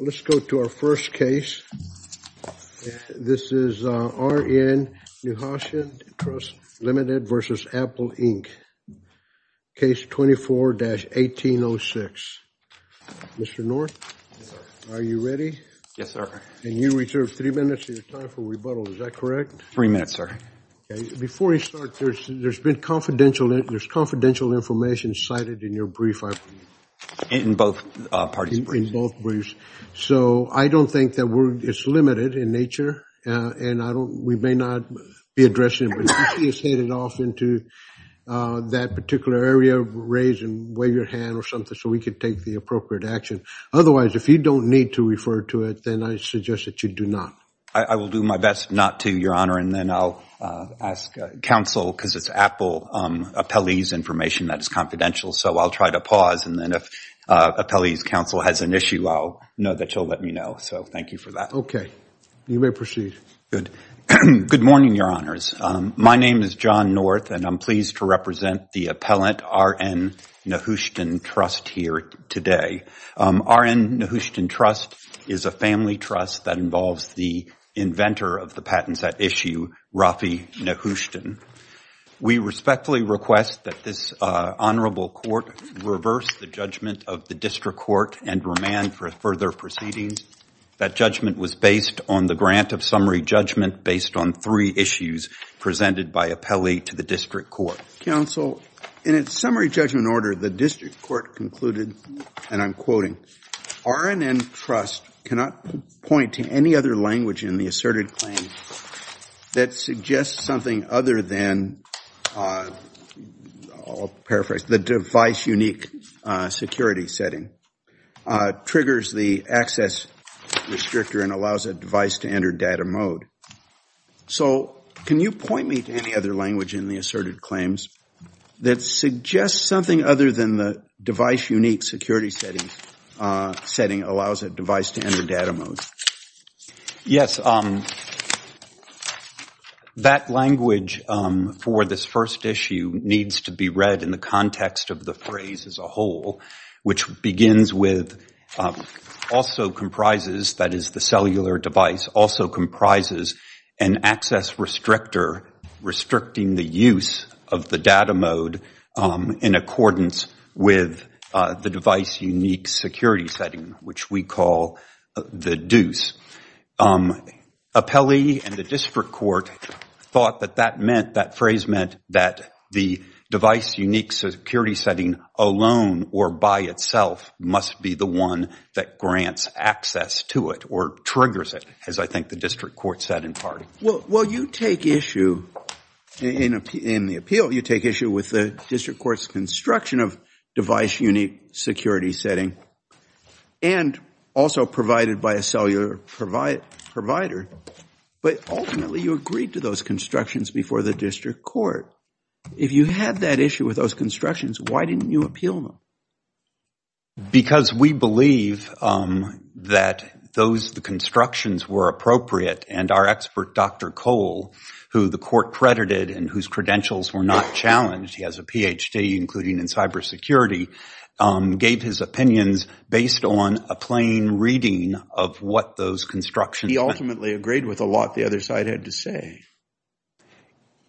Let's go to our first case. This is R.N Nehushtan Trust Ltd. v. Apple Inc. Case 24-1806. Mr. North? Yes, sir. Are you ready? Yes, sir. And you reserve three minutes of your time for rebuttal. Is that correct? Three minutes, sir. Okay. Before we start, there's been confidential – there's confidential information cited in your brief. In both parties' briefs. In both briefs. Okay. So I don't think that we're – it's limited in nature and I don't – we may not be addressing it, but if you see us headed off into that particular area, raise and wave your hand or something so we can take the appropriate action. Otherwise, if you don't need to refer to it, then I suggest that you do not. I will do my best not to, Your Honor, and then I'll ask counsel, because it's Apple appellee's information that is confidential, so I'll try to pause and then if appellee's has an issue, I'll know that she'll let me know. So thank you for that. Okay. You may proceed. Good. Good morning, Your Honors. My name is John North and I'm pleased to represent the Appellant R.N. Nehuston Trust here today. R.N. Nehuston Trust is a family trust that involves the inventor of the patent set issue, Rafi Nehuston. We respectfully request that this honorable court reverse the judgment of the district court and remand for further proceedings. That judgment was based on the grant of summary judgment based on three issues presented by appellee to the district court. Counsel, in its summary judgment order, the district court concluded, and I'm quoting, R.N. N. Trust cannot point to any other language in the asserted claim that suggests something other than, I'll paraphrase, the device unique security setting, triggers the access restrictor and allows a device to enter data mode. So can you point me to any other language in the asserted claims that suggests something other than the device unique security setting allows a device to enter data mode? Yes. So that language for this first issue needs to be read in the context of the phrase as a whole, which begins with, also comprises, that is, the cellular device also comprises an access restrictor restricting the use of the data mode in accordance with the device unique security setting, which we call the deuce. Appellee and the district court thought that that meant, that phrase meant, that the device unique security setting alone or by itself must be the one that grants access to it or triggers it, as I think the district court said in part. Well, you take issue, in the appeal, you take issue with the district court's construction of device unique security setting and also provided by a cellular provider, but ultimately you agreed to those constructions before the district court. If you had that issue with those constructions, why didn't you appeal them? Because we believe that those constructions were appropriate and our expert, Dr. Cole, who the court credited and whose credentials were not challenged, he has a PhD including in cyber security, gave his opinions based on a plain reading of what those constructions meant. He ultimately agreed with a lot the other side had to say.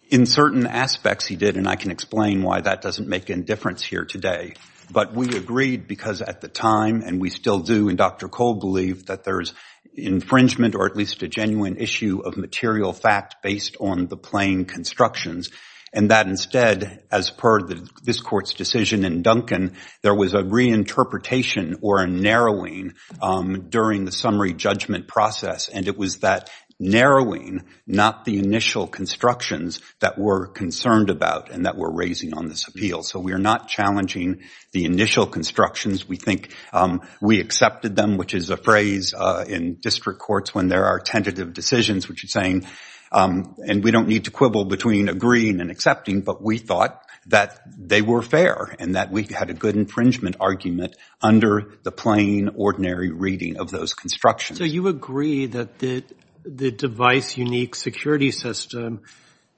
In certain aspects he did, and I can explain why that doesn't make any difference here today. But we agreed because at the time, and we still do, and Dr. Cole believed that there is infringement or at least a genuine issue of material fact based on the plain constructions and that instead, as per this court's decision in Duncan, there was a reinterpretation or a narrowing during the summary judgment process, and it was that narrowing, not the initial constructions that we're concerned about and that we're raising on this appeal. So we're not challenging the initial constructions. We think we accepted them, which is a phrase in district courts when there are tentative decisions, which is saying, and we don't need to quibble between agreeing and accepting, but we thought that they were fair and that we had a good infringement argument under the plain, ordinary reading of those constructions. So you agree that the device unique security system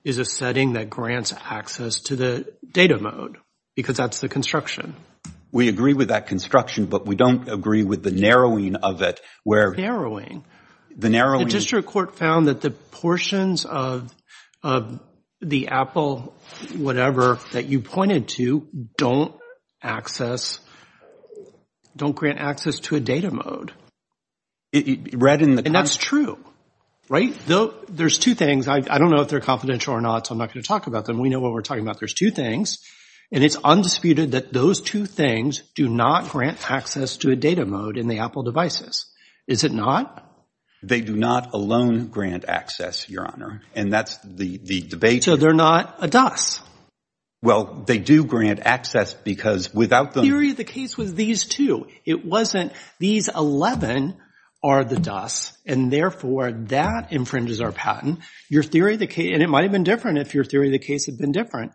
is a setting that grants access to the data mode because that's the construction? We agree with that construction, but we don't agree with the narrowing of it, where— Narrowing? The district court found that the portions of the Apple whatever that you pointed to don't access, don't grant access to a data mode. Read in the— And that's true. Right? There's two things. I don't know if they're confidential or not, so I'm not going to talk about them. We know what we're talking about. There's two things, and it's undisputed that those two things do not grant access to a data mode in the Apple devices. Is it not? They do not alone grant access, Your Honor. And that's the debate— So they're not a DUS? Well, they do grant access because without the— The theory of the case was these two. It wasn't these 11 are the DUS, and therefore that infringes our patent. Your theory of the case—and it might have been different if your theory of the case had been different,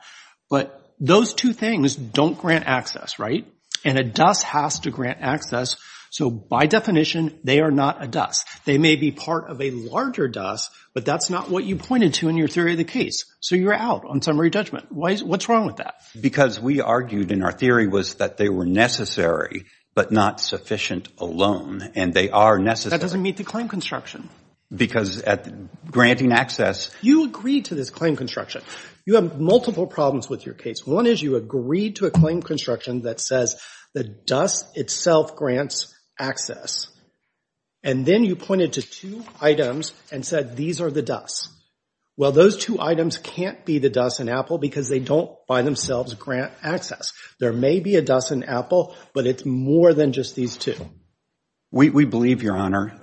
but those two things don't grant access, right? And a DUS has to grant access. So by definition, they are not a DUS. They may be part of a larger DUS, but that's not what you pointed to in your theory of the case. So you're out on summary judgment. What's wrong with that? Because we argued in our theory was that they were necessary but not sufficient alone. And they are necessary— That doesn't meet the claim construction. Because at granting access— You agreed to this claim construction. You have multiple problems with your case. One is you agreed to a claim construction that says the DUS itself grants access. And then you pointed to two items and said, these are the DUS. Well, those two items can't be the DUS in Apple because they don't by themselves grant access. There may be a DUS in Apple, but it's more than just these two. We believe, Your Honor,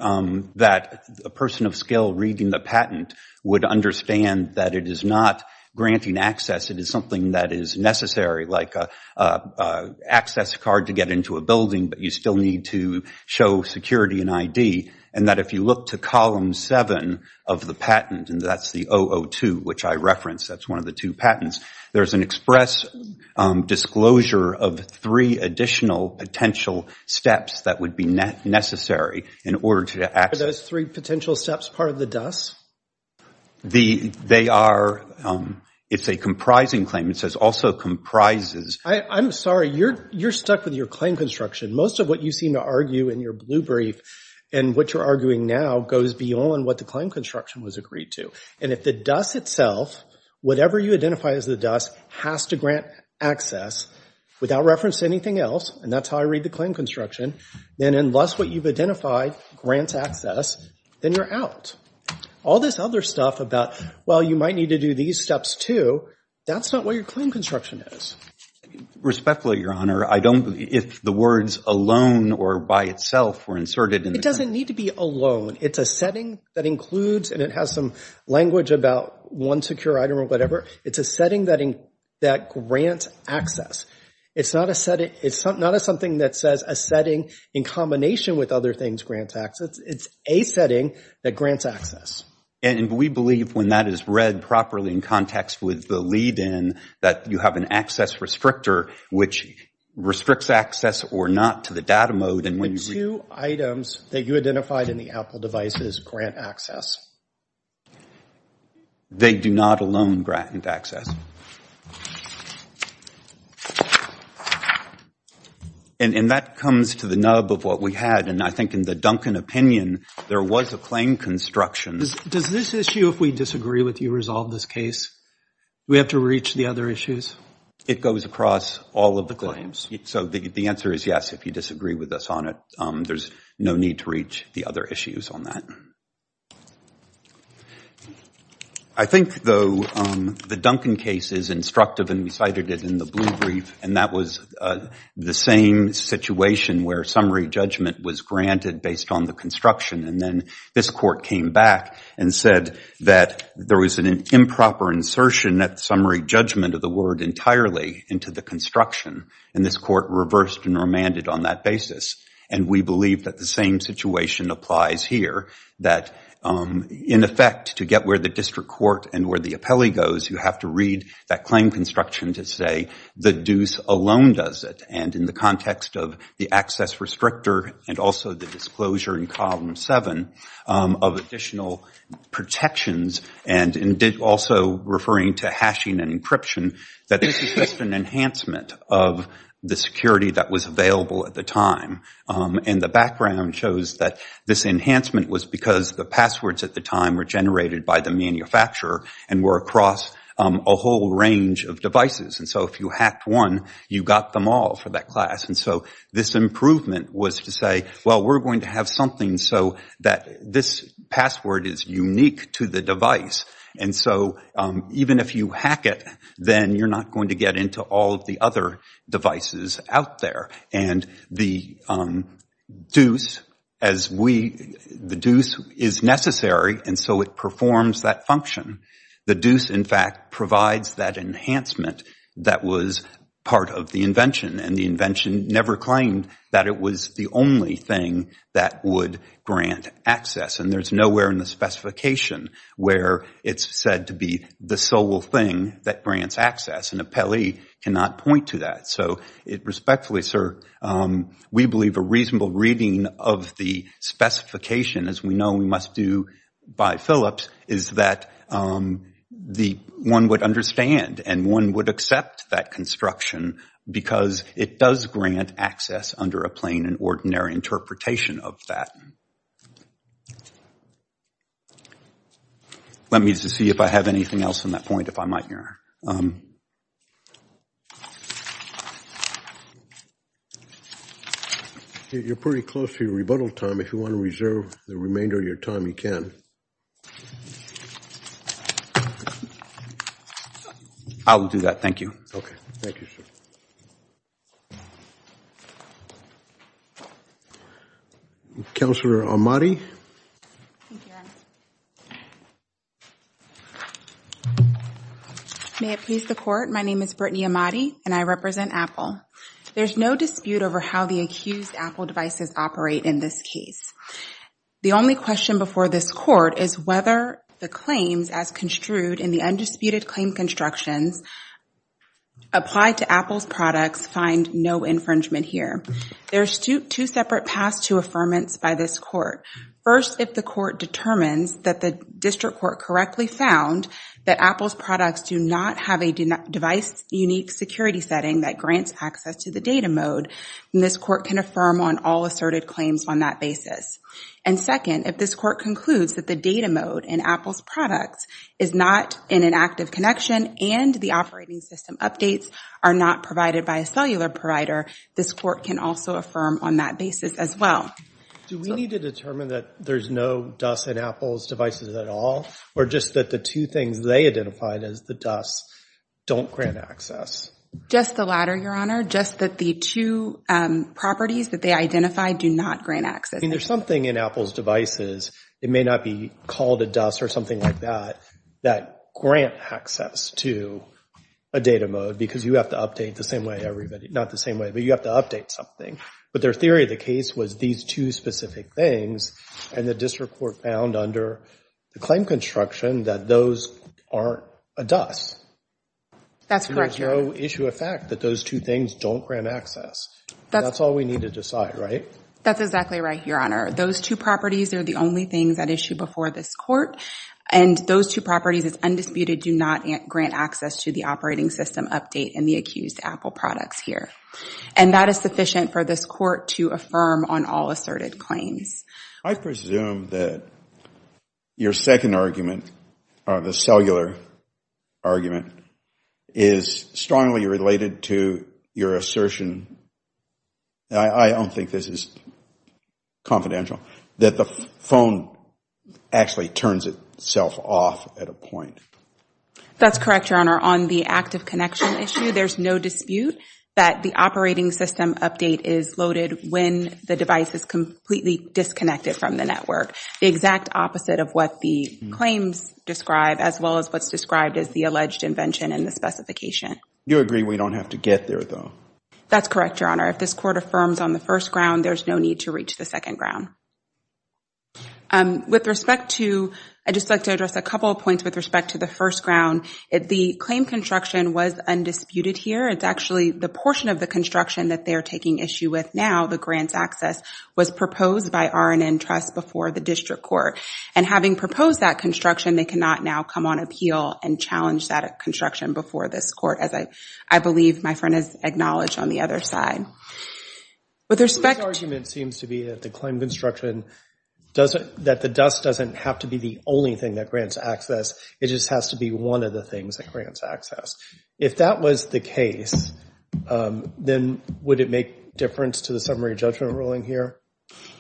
that a person of skill reading the patent would understand that it is not granting access. It is something that is necessary, like an access card to get into a building, but you still need to show security and ID. And that if you look to column seven of the patent, and that's the 002, which I referenced, that's one of the two patents, there's an express disclosure of three additional potential steps that would be necessary in order to access— Are those three potential steps part of the DUS? They are. It's a comprising claim. It says also comprises. I'm sorry, you're stuck with your claim construction. Most of what you seem to argue in your blue brief and what you're arguing now goes beyond what the claim construction was agreed to. And if the DUS itself, whatever you identify as the DUS, has to grant access without reference to anything else, and that's how I read the claim construction, then unless what you've identified grants access, then you're out. All this other stuff about, well, you might need to do these steps too, that's not what your claim construction is. Respectfully, Your Honor, I don't—if the words alone or by itself were inserted in the— It doesn't need to be alone. It's a setting that includes, and it has some language about one secure item or whatever, it's a setting that grants access. It's not a setting—it's not something that says a setting in combination with other things grants access. It's a setting that grants access. And we believe when that is read properly in context with the lead-in that you have an access restrictor which restricts access or not to the data mode and when you— The two items that you identified in the Apple device grant access. They do not alone grant access. And that comes to the nub of what we had. And I think in the Duncan opinion, there was a claim construction. Does this issue, if we disagree with you resolve this case, we have to reach the other issues? It goes across all of the claims. So the answer is yes, if you disagree with us on it, there's no need to reach the other issues on that. I think, though, the Duncan case is instructive and we cited it in the blue brief and that was the same situation where summary judgment was granted based on the construction. And then this court came back and said that there was an improper insertion that summary judgment of the word entirely into the construction. And this court reversed and remanded on that basis. And we believe that the same situation applies here, that in effect to get where the district court and where the appellee goes, you have to read that claim construction to say the deuce alone does it. And in the context of the access restrictor and also the disclosure in column seven of additional protections and also referring to hashing and encryption, that this is just an enhancement of the security that was available at the time. And the background shows that this enhancement was because the passwords at the time were generated by the manufacturer and were across a whole range of devices. And so if you hacked one, you got them all for that class. And so this improvement was to say, well, we're going to have something so that this password is unique to the device. And so even if you hack it, then you're not going to get into all of the other devices out there. And the deuce is necessary, and so it performs that function. The deuce, in fact, provides that enhancement that was part of the invention. And the invention never claimed that it was the only thing that would grant access. And there's nowhere in the specification where it's said to be the sole thing that grants access. An appellee cannot point to that. So respectfully, sir, we believe a reasonable reading of the specification, as we know we must do by Phillips, is that one would understand and one would accept that construction because it does grant access under a plain and ordinary interpretation of that. Let me just see if I have anything else on that point, if I might, Mayor. You're pretty close to your rebuttal time. If you want to reserve the remainder of your time, you can. I will do that. Thank you. Okay. Thank you, sir. Counselor Ahmadi? Thank you, Your Honor. May it please the Court, my name is Brittany Ahmadi and I represent Apple. There's no dispute over how the accused Apple devices operate in this case. The only question before this Court is whether the claims as construed in the instructions applied to Apple's products find no infringement here. There are two separate paths to affirmance by this Court. First, if the Court determines that the district court correctly found that Apple's products do not have a device-unique security setting that grants access to the data mode, then this Court can affirm on all asserted claims on that basis. And second, if this Court concludes that the data mode in Apple's products is not in an active connection and the operating system updates are not provided by a cellular provider, this Court can also affirm on that basis as well. Do we need to determine that there's no dust in Apple's devices at all, or just that the two things they identified as the dust don't grant access? Just the latter, Your Honor. Just that the two properties that they identified do not grant access. I mean, there's something in Apple's devices, it may not be called a dust or something like that, that grant access to a data mode because you have to update the same way everybody, not the same way, but you have to update something. But their theory of the case was these two specific things, and the district court found under the claim construction that those aren't a dust. That's correct, Your Honor. And there's no issue of fact that those two things don't grant access. That's all we need to decide, right? That's exactly right, Your Honor. Those two properties are the only things that issue before this Court, and those two properties as undisputed do not grant access to the operating system update and the accused Apple products here. And that is sufficient for this Court to affirm on all asserted claims. I presume that your second argument, the cellular argument, is strongly related to your assertion, and I don't think this is confidential, that the phone actually turns itself off at a point. That's correct, Your Honor. On the active connection issue, there's no dispute that the operating system update is loaded when the device is completely disconnected from the network. The exact opposite of what the claims describe, as well as what's described as the alleged invention and the specification. You agree we don't have to get there, though? That's correct, Your Honor. If this Court affirms on the first ground, there's no need to reach the second ground. I'd just like to address a couple of points with respect to the first ground. The claim construction was undisputed here. It's actually the portion of the construction that they're taking issue with now, the grants access, was proposed by RNN Trust before the District Court. And having proposed that construction, they cannot now come on appeal and challenge that construction before this Court, as I believe my friend has acknowledged on the other side. This argument seems to be that the dust doesn't have to be the only thing that grants access. It just has to be one of the things that grants access. If that was the case, then would it make difference to the summary judgment ruling here?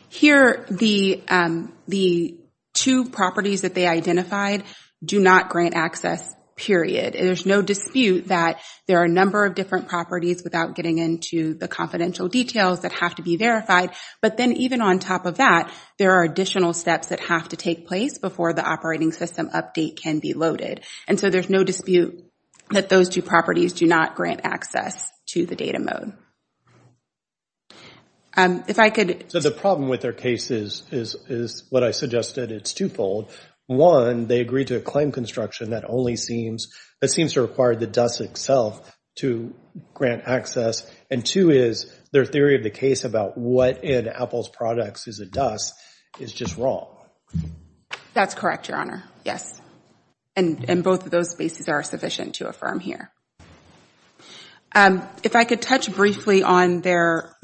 Here, the two properties that they identified do not grant access, period. There's no dispute that there are a number of different properties without getting into the confidential details that have to be verified. But then even on top of that, there are additional steps that have to take place before the operating system update can be loaded. And so there's no dispute that those two properties do not grant access to the data mode. So the problem with their case is what I suggested. It's twofold. One, they agreed to a claim construction that seems to require the dust itself to grant access. And two is, their theory of the case about what in Apple's products is a dust is just wrong. That's correct, Your Honor. Yes. And both of those spaces are sufficient to affirm here. If I could touch briefly on their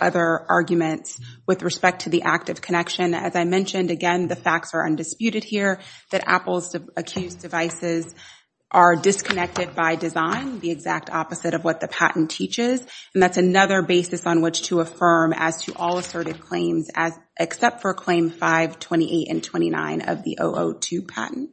other arguments with respect to the active connection. As I mentioned, again, the facts are undisputed here that Apple's accused devices are disconnected by design, the exact opposite of what the patent teaches. And that's another basis on which to affirm as to all asserted claims except for claim 528 and 29 of the 002 patent.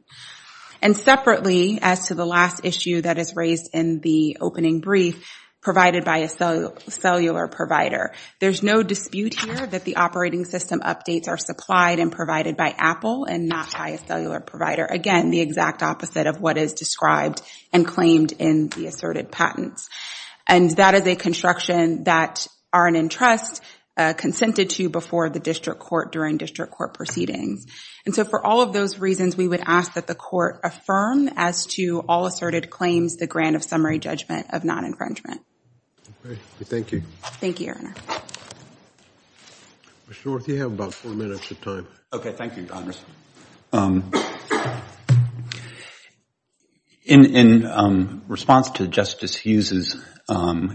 And separately, as to the last issue that is raised in the opening brief, provided by a cellular provider. There's no dispute here that the operating system updates are supplied and provided by Apple and not by a cellular provider. Again, the exact opposite of what is described and claimed in the asserted patents. And that is a construction that R&N Trust consented to before the district court during district court proceedings. And so for all of those reasons, we would ask that the court affirm as to all asserted claims the grant of summary judgment of non-infringement. Thank you, Your Honor. In response to Justice Hughes, I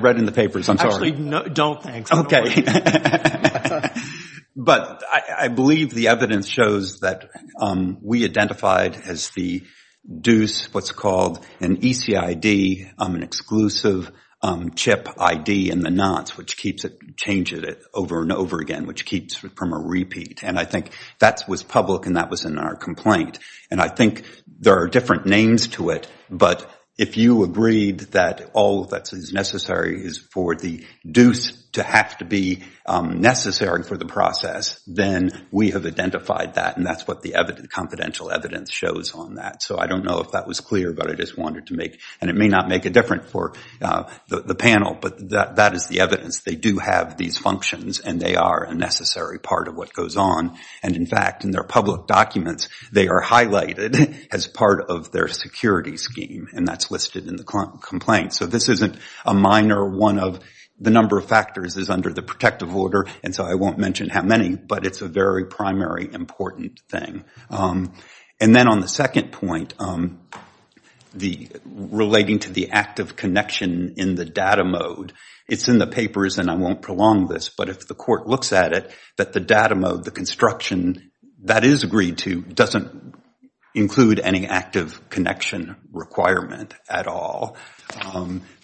read in the papers. I'm sorry. Actually, don't, thanks. But I believe the evidence shows that we identified as the deuce what's called an ECID, an exclusive chip ID in the knots, which keeps it, changes it over and over again, which keeps it from a repeat. And I think that was public and that was in our complaint. And I think there are different names to it. But if you agreed that all of that is necessary is for the deuce to have to be necessary for the process, then we have identified that. And that's what the confidential evidence shows on that. So I don't know if that was clear, but I just wanted to make, and it may not make a difference for the panel, but that is the evidence. They do have these functions and they are a necessary part of what goes on. And in fact, in their public documents, they are highlighted as part of their security scheme. And that's listed in the complaint. So this isn't a minor one of the number of factors is under the protective order. And so I won't mention how many, but it's a very primary important thing. And then on the second point, relating to the active connection in the data mode, it's in the papers, and I won't prolong this, but if the court looks at it, that the data mode, the construction that is agreed to doesn't include any active connection requirement at all,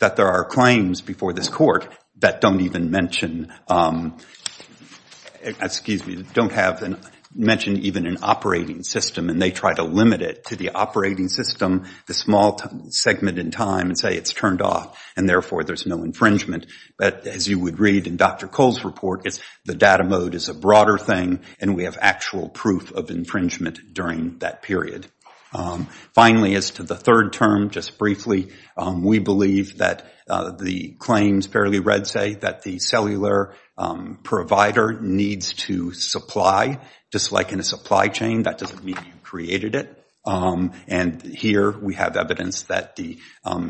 that there are claims before this court that don't even mention, excuse me, don't mention even an operating system, and they try to limit it to the operating system, the small segment in time, and say it's turned off, and therefore there's no infringement. But as you would read in Dr. Cole's report, the data mode is a broader thing, and we have actual proof of infringement during that period. Finally, as to the third term, just briefly, we believe that the claims fairly read say that the cellular provider needs to supply, just like in a supply chain, that doesn't mean you created it. And here we have evidence that the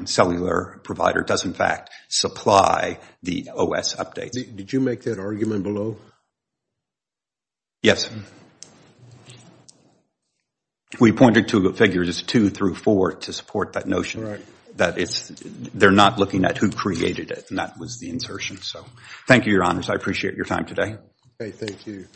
cellular provider does in fact supply the OS updates. Did you make that argument below? Yes. We pointed to figures two through four to support that notion, that they're not looking at who created it, and that was the insertion. Thank you, your honors, I appreciate your time today. Thank you.